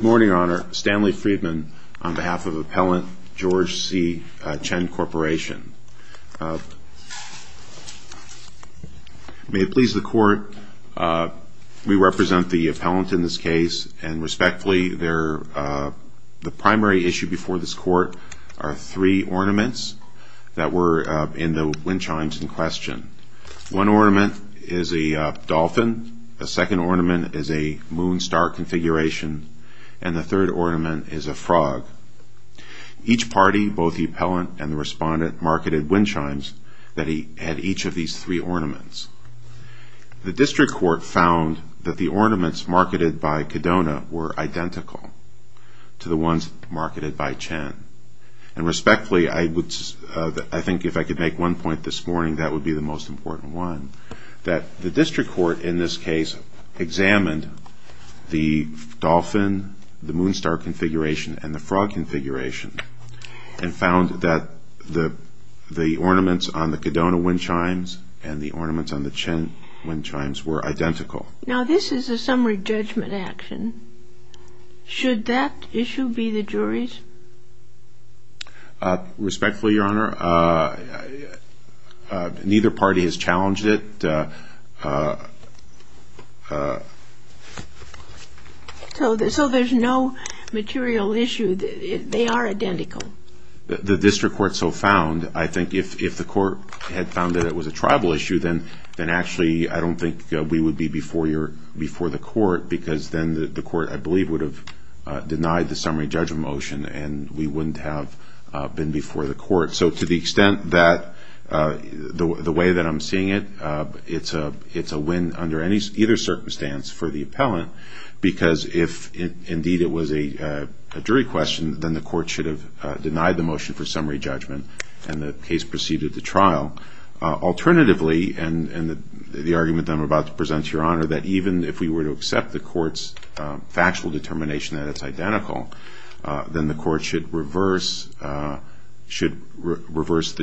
Good morning, Your Honor. Stanley Friedman on behalf of Appellant George C. Chen Corporation. May it please the Court, we represent the appellant in this case, and respectfully, the primary issue before this Court are three ornaments that were in the wind chimes in this case, and the third ornament is a frog. Each party, both the appellant and the respondent, marketed wind chimes that he had each of these three ornaments. The District Court found that the ornaments marketed by Cadona were identical to the ones marketed by Chen, and respectfully, I think if I could make one point this morning, that would be the most the Moonstar configuration and the frog configuration, and found that the ornaments on the Cadona wind chimes and the ornaments on the Chen wind chimes were identical. Now this is a summary judgment action. Should that issue be the jury's? Respectfully, Your Honor, neither party has challenged it. So there's no material issue? They are identical? The District Court so found, I think if the Court had found that it was a tribal issue, then actually I don't think we would be before the Court, because then the Court, I believe, would have denied the summary judgment motion, and we wouldn't have been before the Court. So to the extent that the way that I'm seeing it, it's a win under either circumstance for the appellant, because if, indeed, it was a jury question, then the Court should have denied the motion for summary judgment, and the case proceeded to trial. Alternatively, and the argument that I'm about to present to Your Honor, that even if we were to accept the Court's factual determination that it's identical, then the Court would reverse the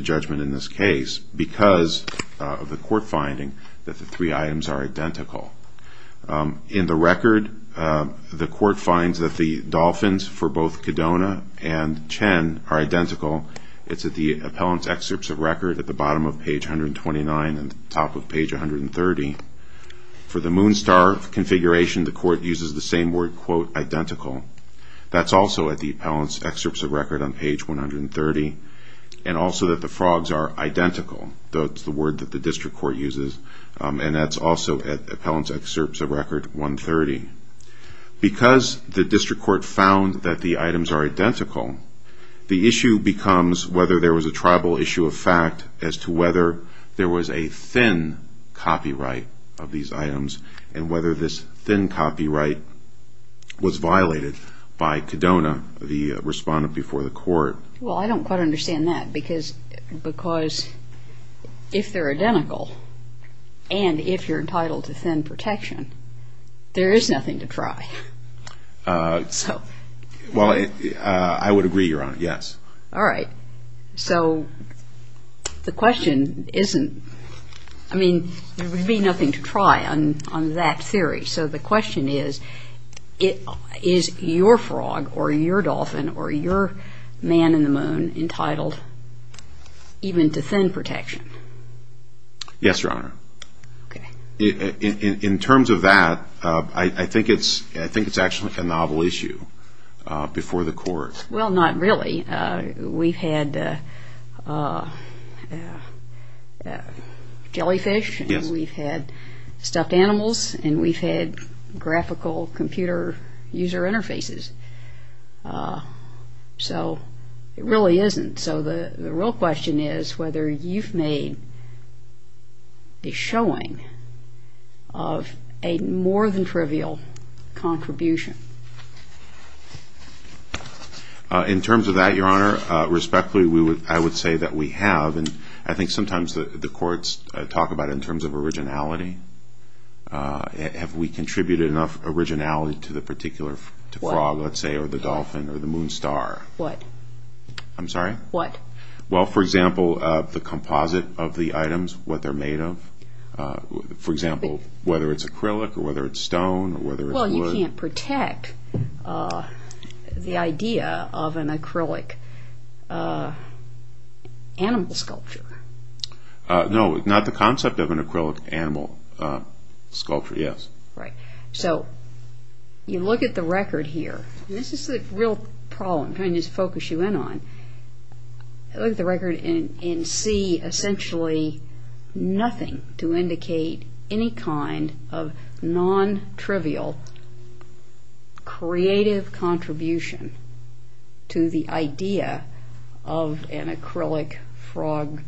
judgment in this case, because of the Court finding that the three items are identical. In the record, the Court finds that the dolphins for both Kedona and Chen are identical. It's at the appellant's excerpts of record at the bottom of page 129 and top of page 130. For the Moonstar configuration, the Court uses the same word quote identical. That's also at the appellant's excerpts of record on page 130, and also that the frogs are identical. That's the word that the District Court uses, and that's also at the appellant's excerpts of record 130. Because the District Court found that the items are identical, the issue becomes whether there was a tribal issue of fact as to whether there was a thin copyright of these items, and whether this thin copyright was violated by Kedona, the respondent before the Court. Well, I don't quite understand that, because if they're identical, and if you're entitled to thin protection, there is nothing to try. Well, I would agree, Your Honor, yes. All right. So the question isn't, I mean, there would be nothing to try on that theory. So the question is, is your frog, or your dolphin, or your man in the moon entitled even to thin protection? Yes, Your Honor. In terms of that, I think it's actually a novel issue before the Court. Well, not really. We've had jellyfish, and we've had stuffed animals, and we've had graphical computer user interfaces. So it really isn't. So the real question is whether you've made a showing of a more than trivial contribution. In terms of that, Your Honor, respectfully, I would say that we have. And I think sometimes the Courts talk about it in terms of originality. Have we contributed enough originality to the particular frog, let's say, or the dolphin, or the moon star? What? I'm sorry? What? Well, for example, the composite of the items, what they're made of. For example, whether it's acrylic, or whether it's stone, or whether it's wood. You can't protect the idea of an acrylic animal sculpture. No, not the concept of an acrylic animal sculpture, yes. Right. So you look at the record here, and this is the real problem I'm trying to focus you in on. Look at the record and see essentially nothing to indicate any kind of non-trivial creative contribution to the idea of an acrylic frog,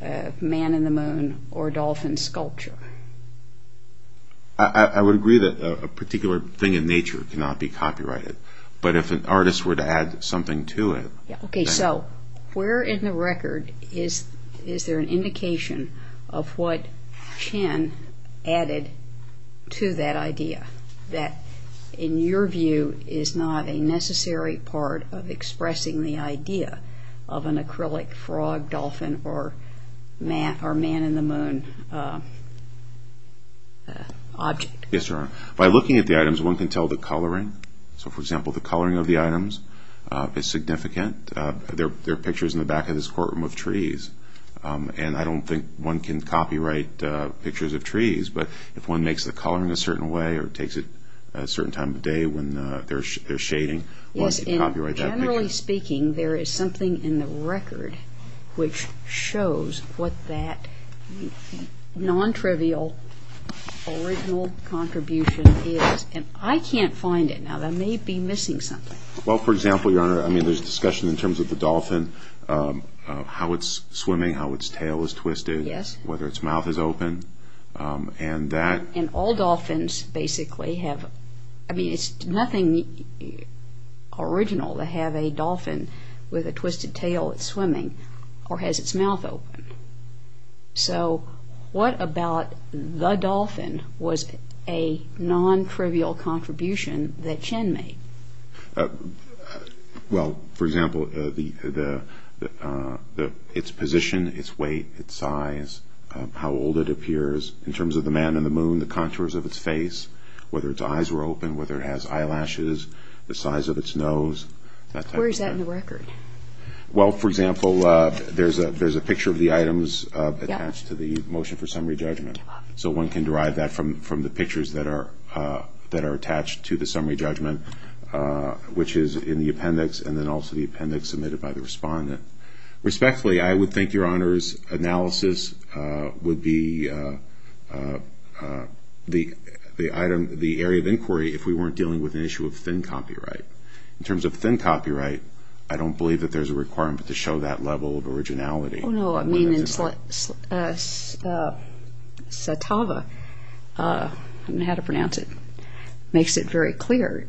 man in the moon, or dolphin sculpture. I would agree that a particular thing in nature cannot be copyrighted. But if an artist were to add something to it... Okay, so where in the record is there an indication of what Chin added to that idea, that the in your view is not a necessary part of expressing the idea of an acrylic frog, dolphin, or man in the moon object? Yes, Your Honor. By looking at the items, one can tell the coloring. So, for example, the coloring of the items is significant. There are pictures in the back of this courtroom of trees, and I don't think one can copyright pictures of trees. But if one makes the coloring a certain way, or takes it at a certain time of day when they're shading, one can copyright that picture. Yes, and generally speaking, there is something in the record which shows what that non-trivial original contribution is. And I can't find it now. That may be missing something. Well, for example, Your Honor, I mean there's discussion in terms of the dolphin, how it's swimming, how its tail is twisted, whether its mouth is open, and that... And all dolphins basically have... I mean, it's nothing original to have a dolphin with a twisted tail that's swimming, or has its mouth open. So, what about the dolphin was a non-trivial contribution that Chin made? Well, for example, its position, its weight, its size, how old it appears in terms of the man and the moon, the contours of its face, whether its eyes were open, whether it has eyelashes, the size of its nose, that type of thing. Where is that in the record? Well, for example, there's a picture of the items attached to the motion for summary judgment. So one can derive that from the pictures that are attached to the summary judgment, which is in the appendix, and then also the appendix submitted by the respondent. Respectfully, I would think, Your Honors, analysis would be the area of inquiry if we weren't dealing with an issue of thin copyright. In terms of thin copyright, I don't believe that there's a requirement to show that level of originality. Oh, no. I mean, Satava, I don't know how to pronounce it, makes it very clear.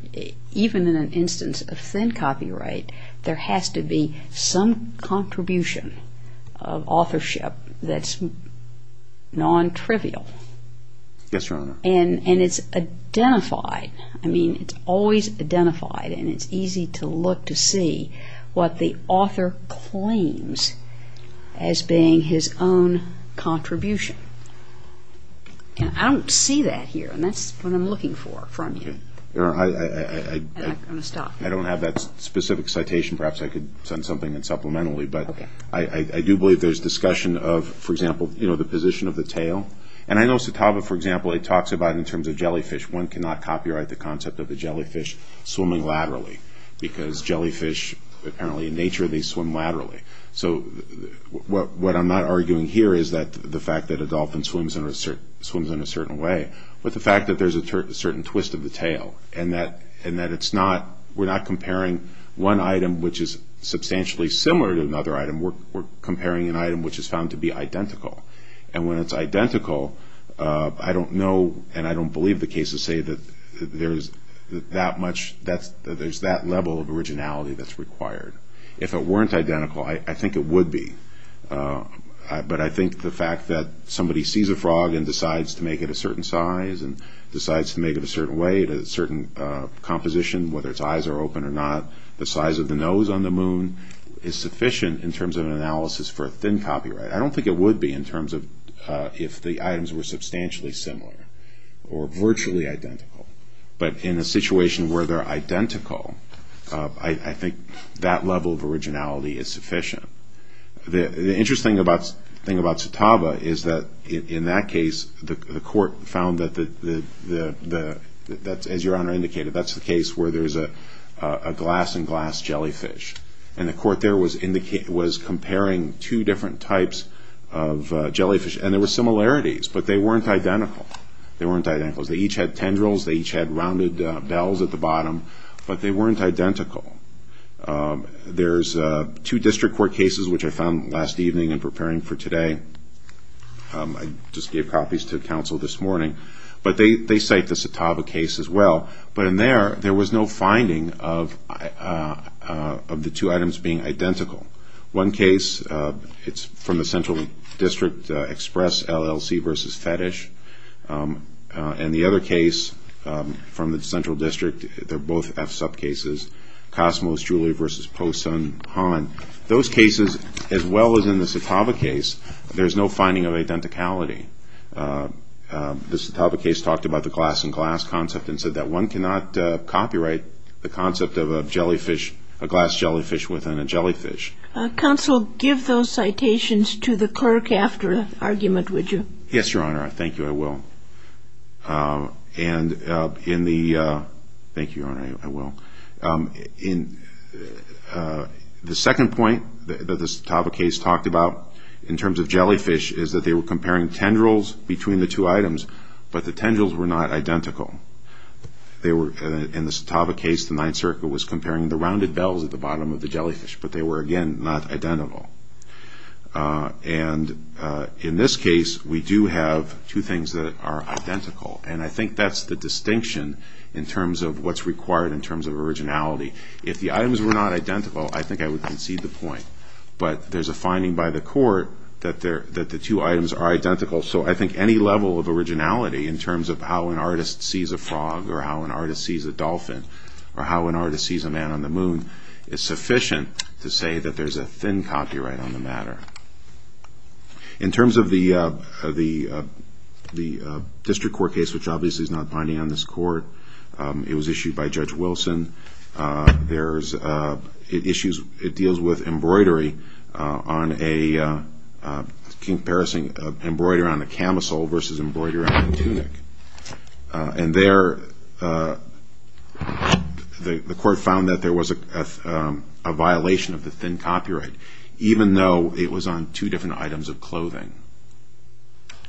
Even in instance of thin copyright, there has to be some contribution of authorship that's non-trivial. Yes, Your Honor. And it's identified. I mean, it's always identified, and it's easy to look to see what the author claims as being his own contribution. I don't see that here, and that's what I'm looking for from you. Your Honor, I don't have that specific citation. Perhaps I could send something in supplementary, but I do believe there's discussion of, for example, the position of the tail. And I know Satava, for example, it talks about in terms of jellyfish, one cannot copyright the concept of the jellyfish swimming laterally, because jellyfish, apparently in nature, they swim laterally. So what I'm not arguing here is the fact that a dolphin swims in a certain way, but the fact that there's a certain twist of the tail, and that we're not comparing one item which is substantially similar to another item. We're comparing an item which is found to be identical. And when it's identical, I don't know, and I don't believe the cases say that there's that level of originality that's required. If it weren't identical, I think it would be. But I think the fact that somebody sees a frog and decides to make it a certain size and decides to make it a certain way, a certain composition, whether its eyes are open or not, the size of the nose on the moon, is sufficient in terms of an analysis for a thin copyright. I don't think it would be in terms of if the items were substantially similar or virtually identical. But in a situation where they're identical, I think that level of originality is sufficient. The interesting thing about Satava is that in that case, the court found that, as your Honor indicated, that's the case where there's a glass and glass jellyfish. And the court there was comparing two different types of jellyfish. And there were similarities, but they weren't identical. They weren't identical. They each had tendrils. They each had rounded bells at the bottom. But they weren't identical. There's two district court cases, which I found last evening in preparing for today. I just gave copies to counsel this morning. But they cite the Satava case as well. But in there, there was no finding of the two items being identical. One case, it's from the Central District Express LLC versus Fetish. And the other case from the Central District, they're both F-sub cases, Cosmos Julie versus Po Sun Han. Those cases, as well as in the Satava case, there's no finding of identicality. The Satava case talked about the glass and glass concept and said that one cannot copyright the concept of a jellyfish, a glass jellyfish within a jellyfish. Counsel, give those citations to the clerk after the argument, would you? Yes, Your Honor. Thank you. I will. And in the... Thank you, Your Honor. I will. The second point that the Satava case talked about in terms of jellyfish is that they were comparing tendrils between the two items, but the tendrils were not identical. They were, in the Satava case, the Ninth Circle was comparing the rounded bells at the bottom of the jellyfish, but they were, again, not identical. And in this case, we do have two things that are identical, and I think that's the distinction in terms of what's required in terms of originality. If the items were not identical, I think I would concede the point. But there's a finding by the court that the two items are identical, so I think any level of originality in terms of how an artist sees a frog or how an artist sees a jellyfish is sufficient to say that there's a thin copyright on the matter. In terms of the district court case, which obviously is not binding on this court, it was issued by Judge Wilson. It deals with embroidery on a... Comparison of embroidery on a camisole versus embroidery on a tunic. And there, the court found that there was a thin copyright violation, even though it was on two different items of clothing.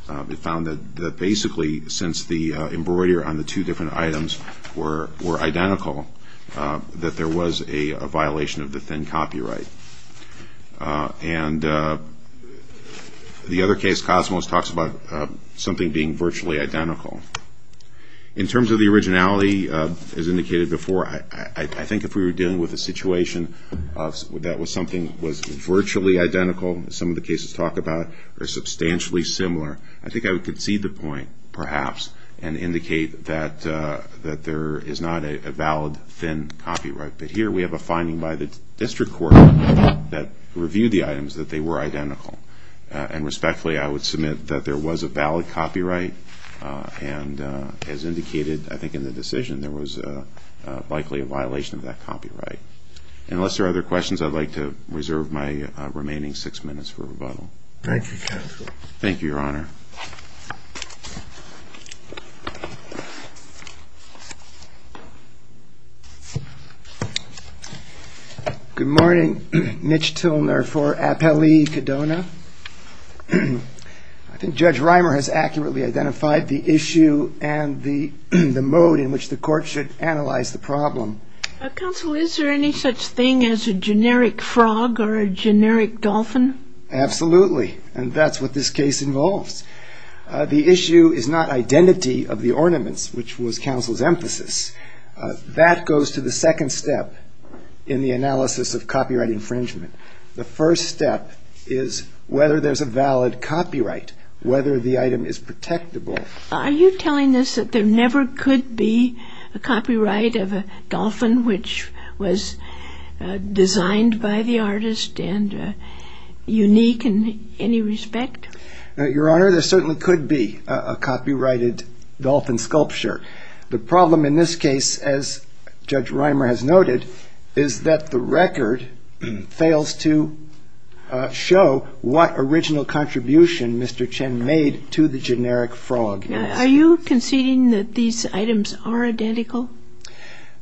It found that basically, since the embroidery on the two different items were identical, that there was a violation of the thin copyright. And the other case, Cosmos, talks about something being virtually identical. In terms of the originality, as indicated before, I think if we were dealing with a situation that was something that was virtually identical, as some of the cases talk about, or substantially similar, I think I would concede the point, perhaps, and indicate that there is not a valid thin copyright. But here we have a finding by the district court that reviewed the items that they were identical. And respectfully, I would submit that there was a valid copyright, and as indicated, I think in the decision, there was likely a violation of that copyright. And unless there are other questions, I'd like to reserve my remaining six minutes for rebuttal. Thank you, counsel. Thank you, Your Honor. Good morning. Mitch Tilner for Appellee Kedona. I think Judge Reimer has accurately identified the issue and the mode in which the court should analyze the problem. Counsel, is there any such thing as a generic frog or a generic dolphin? Absolutely. And that's what this case involves. The issue is not identity of the ornaments, which was counsel's emphasis. That goes to the second step in the analysis of copyright infringement. The first step is whether there's a valid copyright, whether the item is protectable, are you telling us that there never could be a copyright of a dolphin which was designed by the artist and unique in any respect? Your Honor, there certainly could be a copyrighted dolphin sculpture. The problem in this case, as Judge Reimer has noted, is that the record fails to show what original contribution Mr. Chen made to the generic frog. Are you conceding that these items are identical?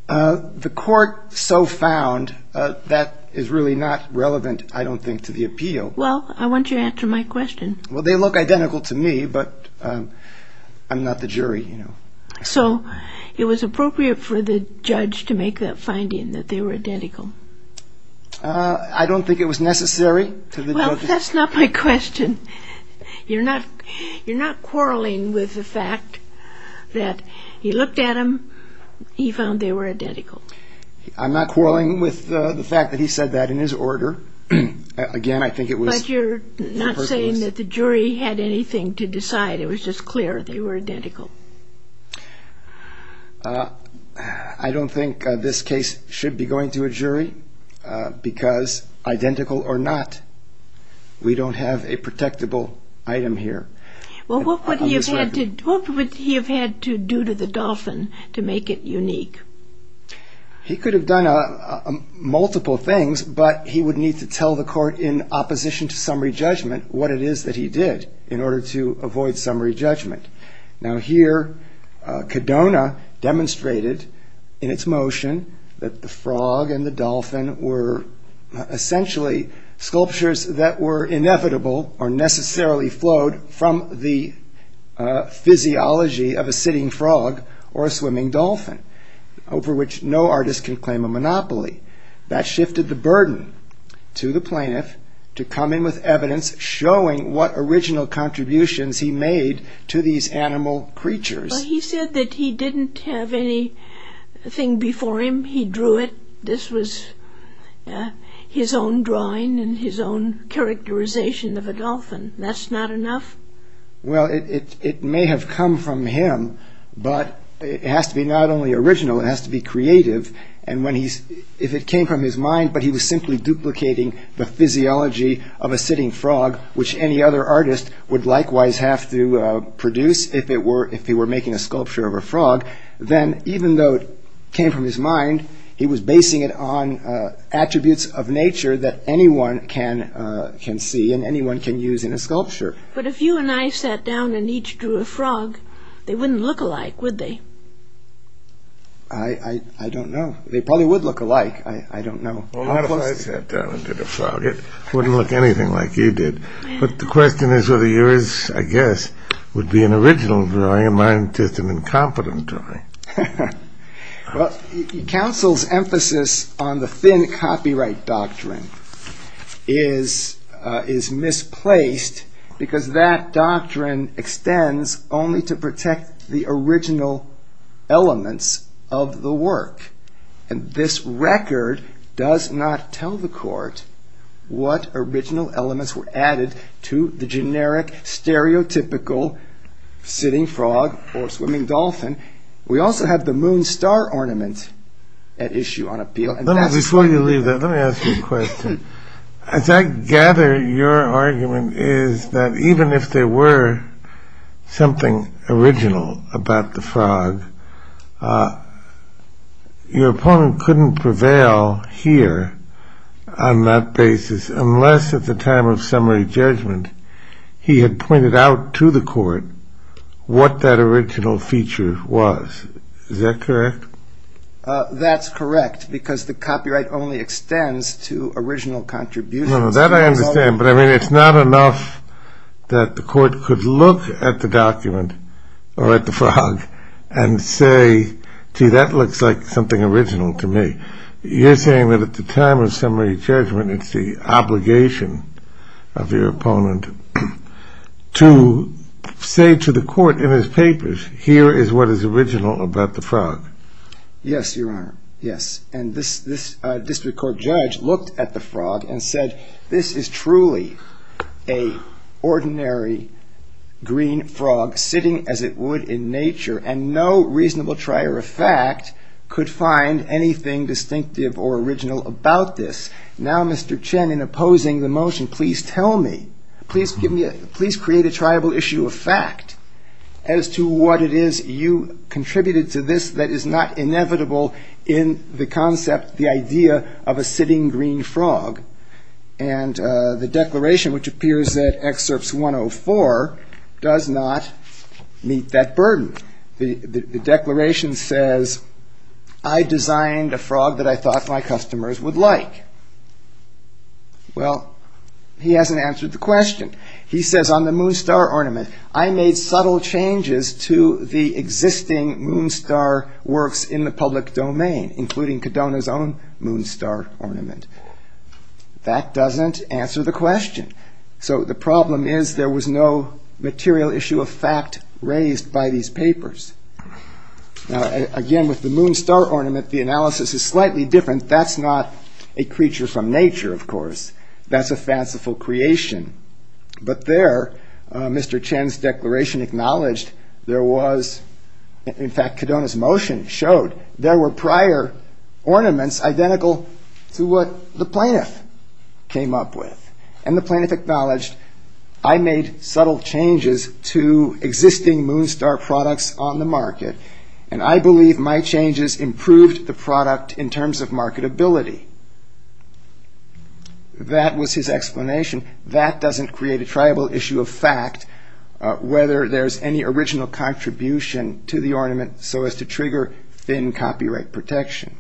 The court so found that is really not relevant, I don't think, to the appeal. Well, I want you to answer my question. Well, they look identical to me, but I'm not the jury, you know. So it was appropriate for the judge to make that finding, that they were identical? I don't think it was necessary. Well, that's not my question. You're not quarreling with the fact that he looked at them, he found they were identical. I'm not quarreling with the fact that he said that in his order. Again, I think it was... But you're not saying that the jury had anything to decide. It was just clear they were identical. I don't think this case should be going to a jury, because identical or not, we don't have a protectable item here. Well, what would he have had to do to the dolphin to make it unique? He could have done multiple things, but he would need to tell the court in opposition to summary judgment what it is that he did in order to avoid summary judgment. Now here, Codona demonstrated in its motion that the frog and the dolphin were essentially sculptures that were inevitable or necessarily flowed from the physiology of a sitting frog or a swimming dolphin, over which no artist can claim a monopoly. That shifted the burden to the plaintiff to come in with evidence showing what original contributions he made to these animal creatures. He said that he didn't have anything before him. He drew it. This was his own drawing and his own characterization of a dolphin. That's not enough? Well, it may have come from him, but it has to be not only original, it has to be creative. And if it came from his mind, but he was simply duplicating the physiology of a sitting frog, which any other artist would likewise have to produce if they were making a sculpture of a frog, then even though it came from his mind, he was basing it on attributes of nature that anyone can see and anyone can use in a sculpture. But if you and I sat down and each drew a frog, they wouldn't look alike, would they? I don't know. They probably would look alike. I don't know. Well, not if I sat down and did a frog. It wouldn't look anything like you did. But the question is whether yours, I guess, would be an original drawing and mine just an incompetent drawing. Well, counsel's emphasis on the thin copyright doctrine is misplaced because that doctrine extends only to protect the original elements of the work. And this record does not tell the court what original elements were added to the generic, stereotypical sitting frog or swimming dolphin. We also have the moon star ornament at issue on appeal. Before you leave that, let me ask you a question. As I gather, your argument is that even if there were something original about the frog, your opponent couldn't prevail here on that basis unless at the time of summary judgment he had pointed out to the court what that original feature was. Is that correct? That's correct, because the copyright only extends to original contributions. That I understand, but it's not enough that the court could look at the document or at the frog and say, gee, that looks like something original to me. You're saying that at the time of summary judgment it's the obligation of your opponent to say to the court in his papers, here is what is original about the frog. Yes, your honor, yes. And this district court judge looked at the frog and said, this is truly an ordinary green frog sitting as it would in nature, and no reasonable trier of fact could find anything distinctive or original about this. Now, Mr. Chen, in opposing the motion, please tell me, please create a triable issue of fact as to what it is you contributed to this that is not inevitable in the concept, the idea of a sitting green frog. And the declaration, which appears at excerpts 104, does not meet that burden. The declaration says, I designed a frog that I thought my customers would like. Well, he hasn't answered the question. He says on the Moonstar ornament, I made subtle changes to the existing Moonstar works in the public domain, including Kadona's own Moonstar ornament. That doesn't answer the question. So the problem is there was no material issue of fact raised by these papers. Now, again, with the Moonstar ornament, the analysis is slightly different. That's not a creature from nature, of course. That's a fanciful creation. But there, Mr. Chen's declaration acknowledged there was, in fact, Kadona's motion showed there were prior ornaments identical to what the plaintiff came up with. And the plaintiff acknowledged, I made subtle changes to existing Moonstar products on the market, and I believe my changes improved the product in terms of marketability. That was his explanation. That doesn't create a triable issue of fact, whether there's any original contribution to the ornament so as to trigger thin copyright protection.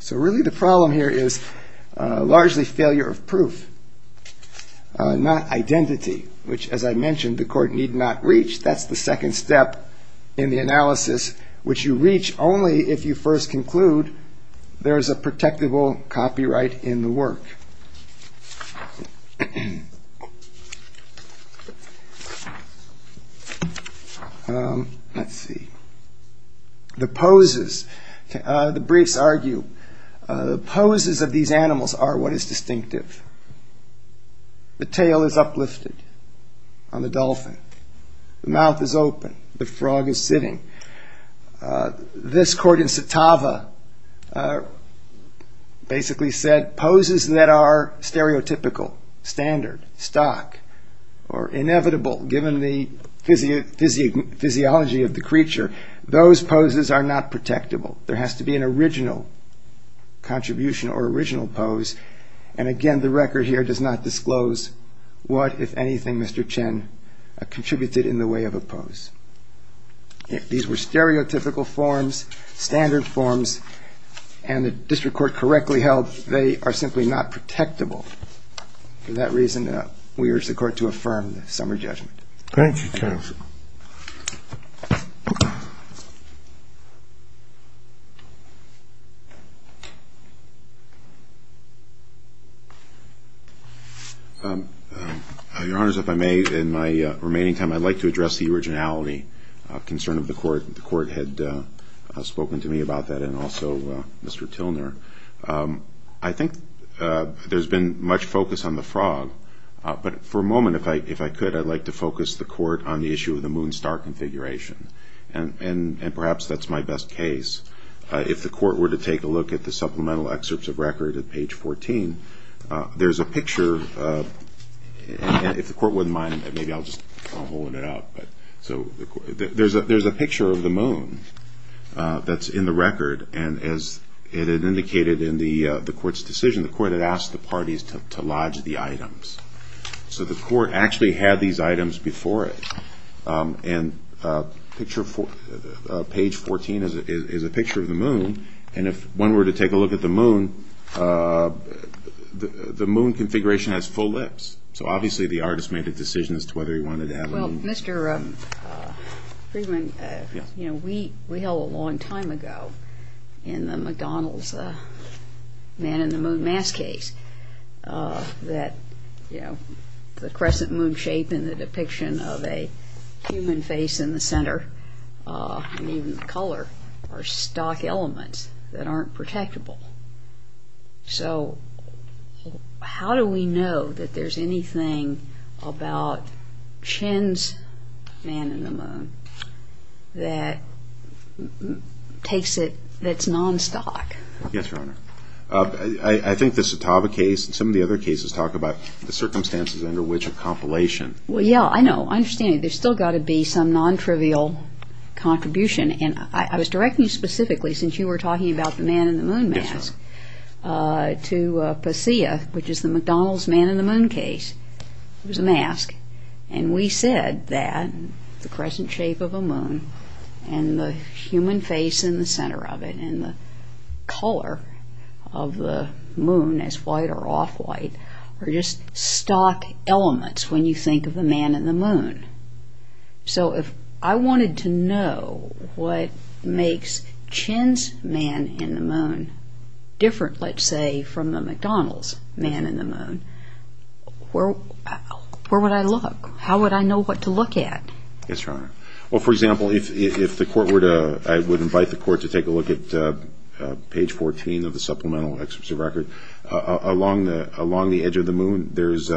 So really the problem here is largely failure of proof, not identity, which, as I mentioned, the court need not reach. That's the second step in the analysis, which you reach only if you first conclude there is a protectable copyright in the work. Let's see. The poses. The briefs argue the poses of these animals are what is distinctive. The tail is uplifted on the dolphin. The mouth is open. The frog is sitting. This court in Satava basically said poses that are stereotypical, standard, stock, or inevitable, given the physiology of the creature, those poses are not protectable. There has to be an original contribution or original pose. And again, the record here does not disclose what, if anything, Mr. Chen contributed in the way of a pose. These were stereotypical forms, standard forms, and the district court correctly held they are simply not protectable. For that reason, we urge the court to affirm the summary judgment. Thank you, counsel. Your Honor, if I may, in my remaining time I'd like to address the originality concern of the court. The court had spoken to me about that and also Mr. Tilner. I think there's been much focus on the frog. But for a moment, if I could, I'd like to focus the court on the issue of the moon-star configuration. And perhaps that's my best case. If the court were to take a look at the supplemental excerpts of record at page 14, there's a picture. If the court wouldn't mind, maybe I'll just hold it up. There's a picture of the moon that's in the record. And as it indicated in the court's decision, the court had asked the parties to lodge the items. So the court actually had these items before it. And page 14 is a picture of the moon. And if one were to take a look at the moon, the moon configuration has full lips. So obviously the artist made a decision as to whether he wanted to have a moon. Well, Mr. Friedman, you know, we held a long time ago in the McDonald's man-in-the-moon-mask case that, you know, the crescent moon shape and the depiction of a human face in the center and even the color are stock elements that aren't protectable. So how do we know that there's anything about Chin's man-in-the-moon that takes it, that's non-stock? Yes, Your Honor. I think the Satava case and some of the other cases talk about the circumstances under which a compilation. Well, yeah, I know. I understand. There's still got to be some non-trivial contribution. And I was directing you specifically, since you were talking about the man-in-the-moon mask, to Pasea, which is the McDonald's man-in-the-moon case. It was a mask. And we said that the crescent shape of a moon and the human face in the center of it and the color of the moon as white or off-white are just stock elements when you think of the man-in-the-moon. So if I wanted to know what makes Chin's man-in-the-moon different, let's say, from the McDonald's man-in-the-moon, where would I look? How would I know what to look at? Yes, Your Honor. Well, for example, if the court were to, I would invite the court to take a look at page 14 of the supplemental Along the edge of the moon, there's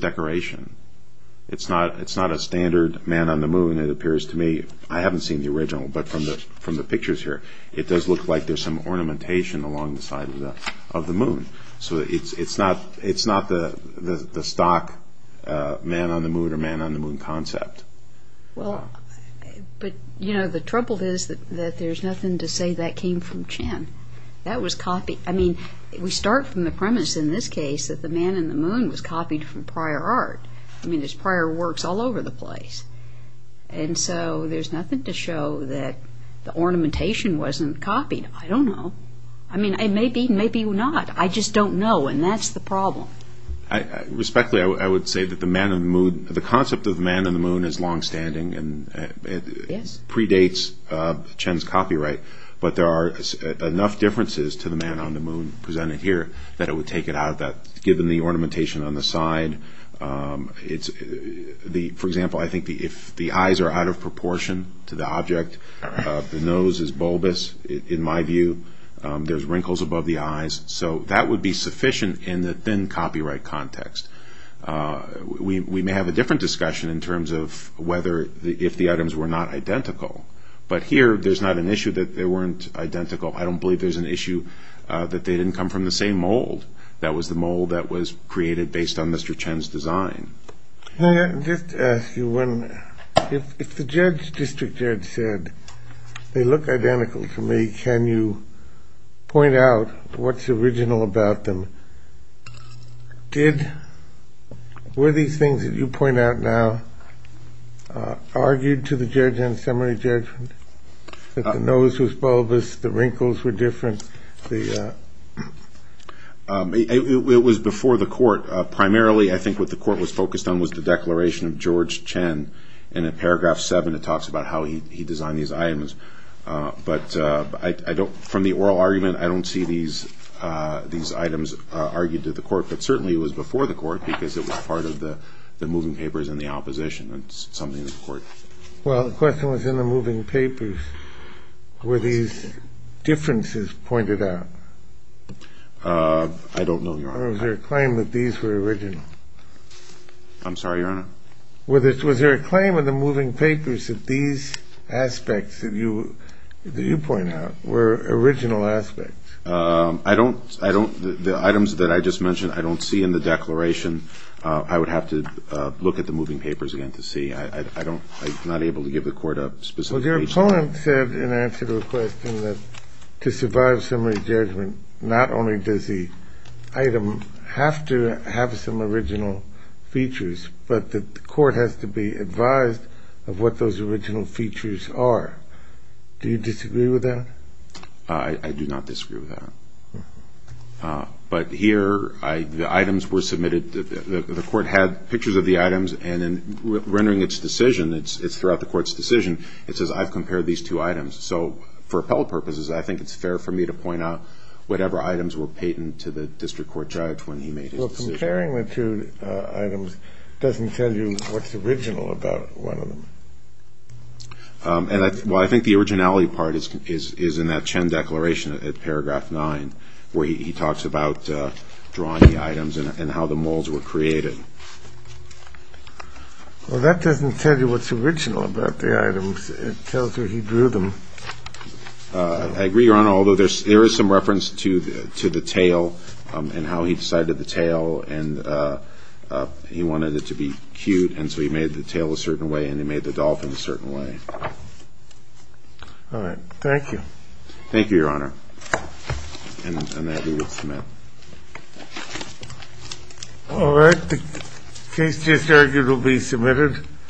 decoration. It's not a standard man-on-the-moon, it appears to me. I haven't seen the original, but from the pictures here, it does look like there's some ornamentation along the side of the moon. So it's not the stock man-on-the-moon or man-on-the-moon concept. Well, but, you know, the trouble is that there's nothing to say that came from Chin. I mean, we start from the premise in this case that the man-on-the-moon was copied from prior art. I mean, there's prior works all over the place. And so there's nothing to show that the ornamentation wasn't copied. I don't know. I mean, maybe, maybe not. I just don't know, and that's the problem. Respectfully, I would say that the concept of the man-on-the-moon is longstanding and predates Chin's copyright. But there are enough differences to the man-on-the-moon presented here that it would take it out of that, given the ornamentation on the side. For example, I think if the eyes are out of proportion to the object, the nose is bulbous, in my view. There's wrinkles above the eyes. So that would be sufficient in the thin copyright context. We may have a different discussion in terms of whether if the items were not identical. But here, there's not an issue that they weren't identical. I don't believe there's an issue that they didn't come from the same mold. That was the mold that was created based on Mr. Chin's design. May I just ask you, if the judge, district judge, said they look identical to me, can you point out what's original about them? Were these things that you point out now argued to the judge in summary judgment? That the nose was bulbous, the wrinkles were different? It was before the court. Primarily, I think what the court was focused on was the declaration of George Chin. And in paragraph 7, it talks about how he designed these items. But from the oral argument, I don't see these items argued to the court. But certainly, it was before the court because it was part of the moving papers and the opposition. It's something that the court. Well, the question was, in the moving papers, were these differences pointed out? I don't know, Your Honor. Or was there a claim that these were original? I'm sorry, Your Honor? Was there a claim in the moving papers that these aspects that you point out were original aspects? The items that I just mentioned, I don't see in the declaration. I would have to look at the moving papers again to see. I'm not able to give the court a specific agency. Well, your opponent said in answer to the question that to survive summary judgment, not only does the item have to have some original features, but the court has to be advised of what those original features are. Do you disagree with that? I do not disagree with that. But here, the items were submitted. The court had pictures of the items, and in rendering its decision, it's throughout the court's decision, it says, I've compared these two items. So for appellate purposes, I think it's fair for me to point out whatever items were patent to the district court judge when he made his decision. Well, comparing the two items doesn't tell you what's original about one of them. Well, I think the originality part is in that Chen declaration at paragraph 9, where he talks about drawing the items and how the molds were created. Well, that doesn't tell you what's original about the items. It tells you he drew them. I agree, Your Honor, although there is some reference to the tail and how he decided the tail, and he wanted it to be cute, and so he made the tail a certain way, and he made the dolphin a certain way. All right. Thank you. Thank you, Your Honor. And that will be submitted. All right. The case just argued will be submitted.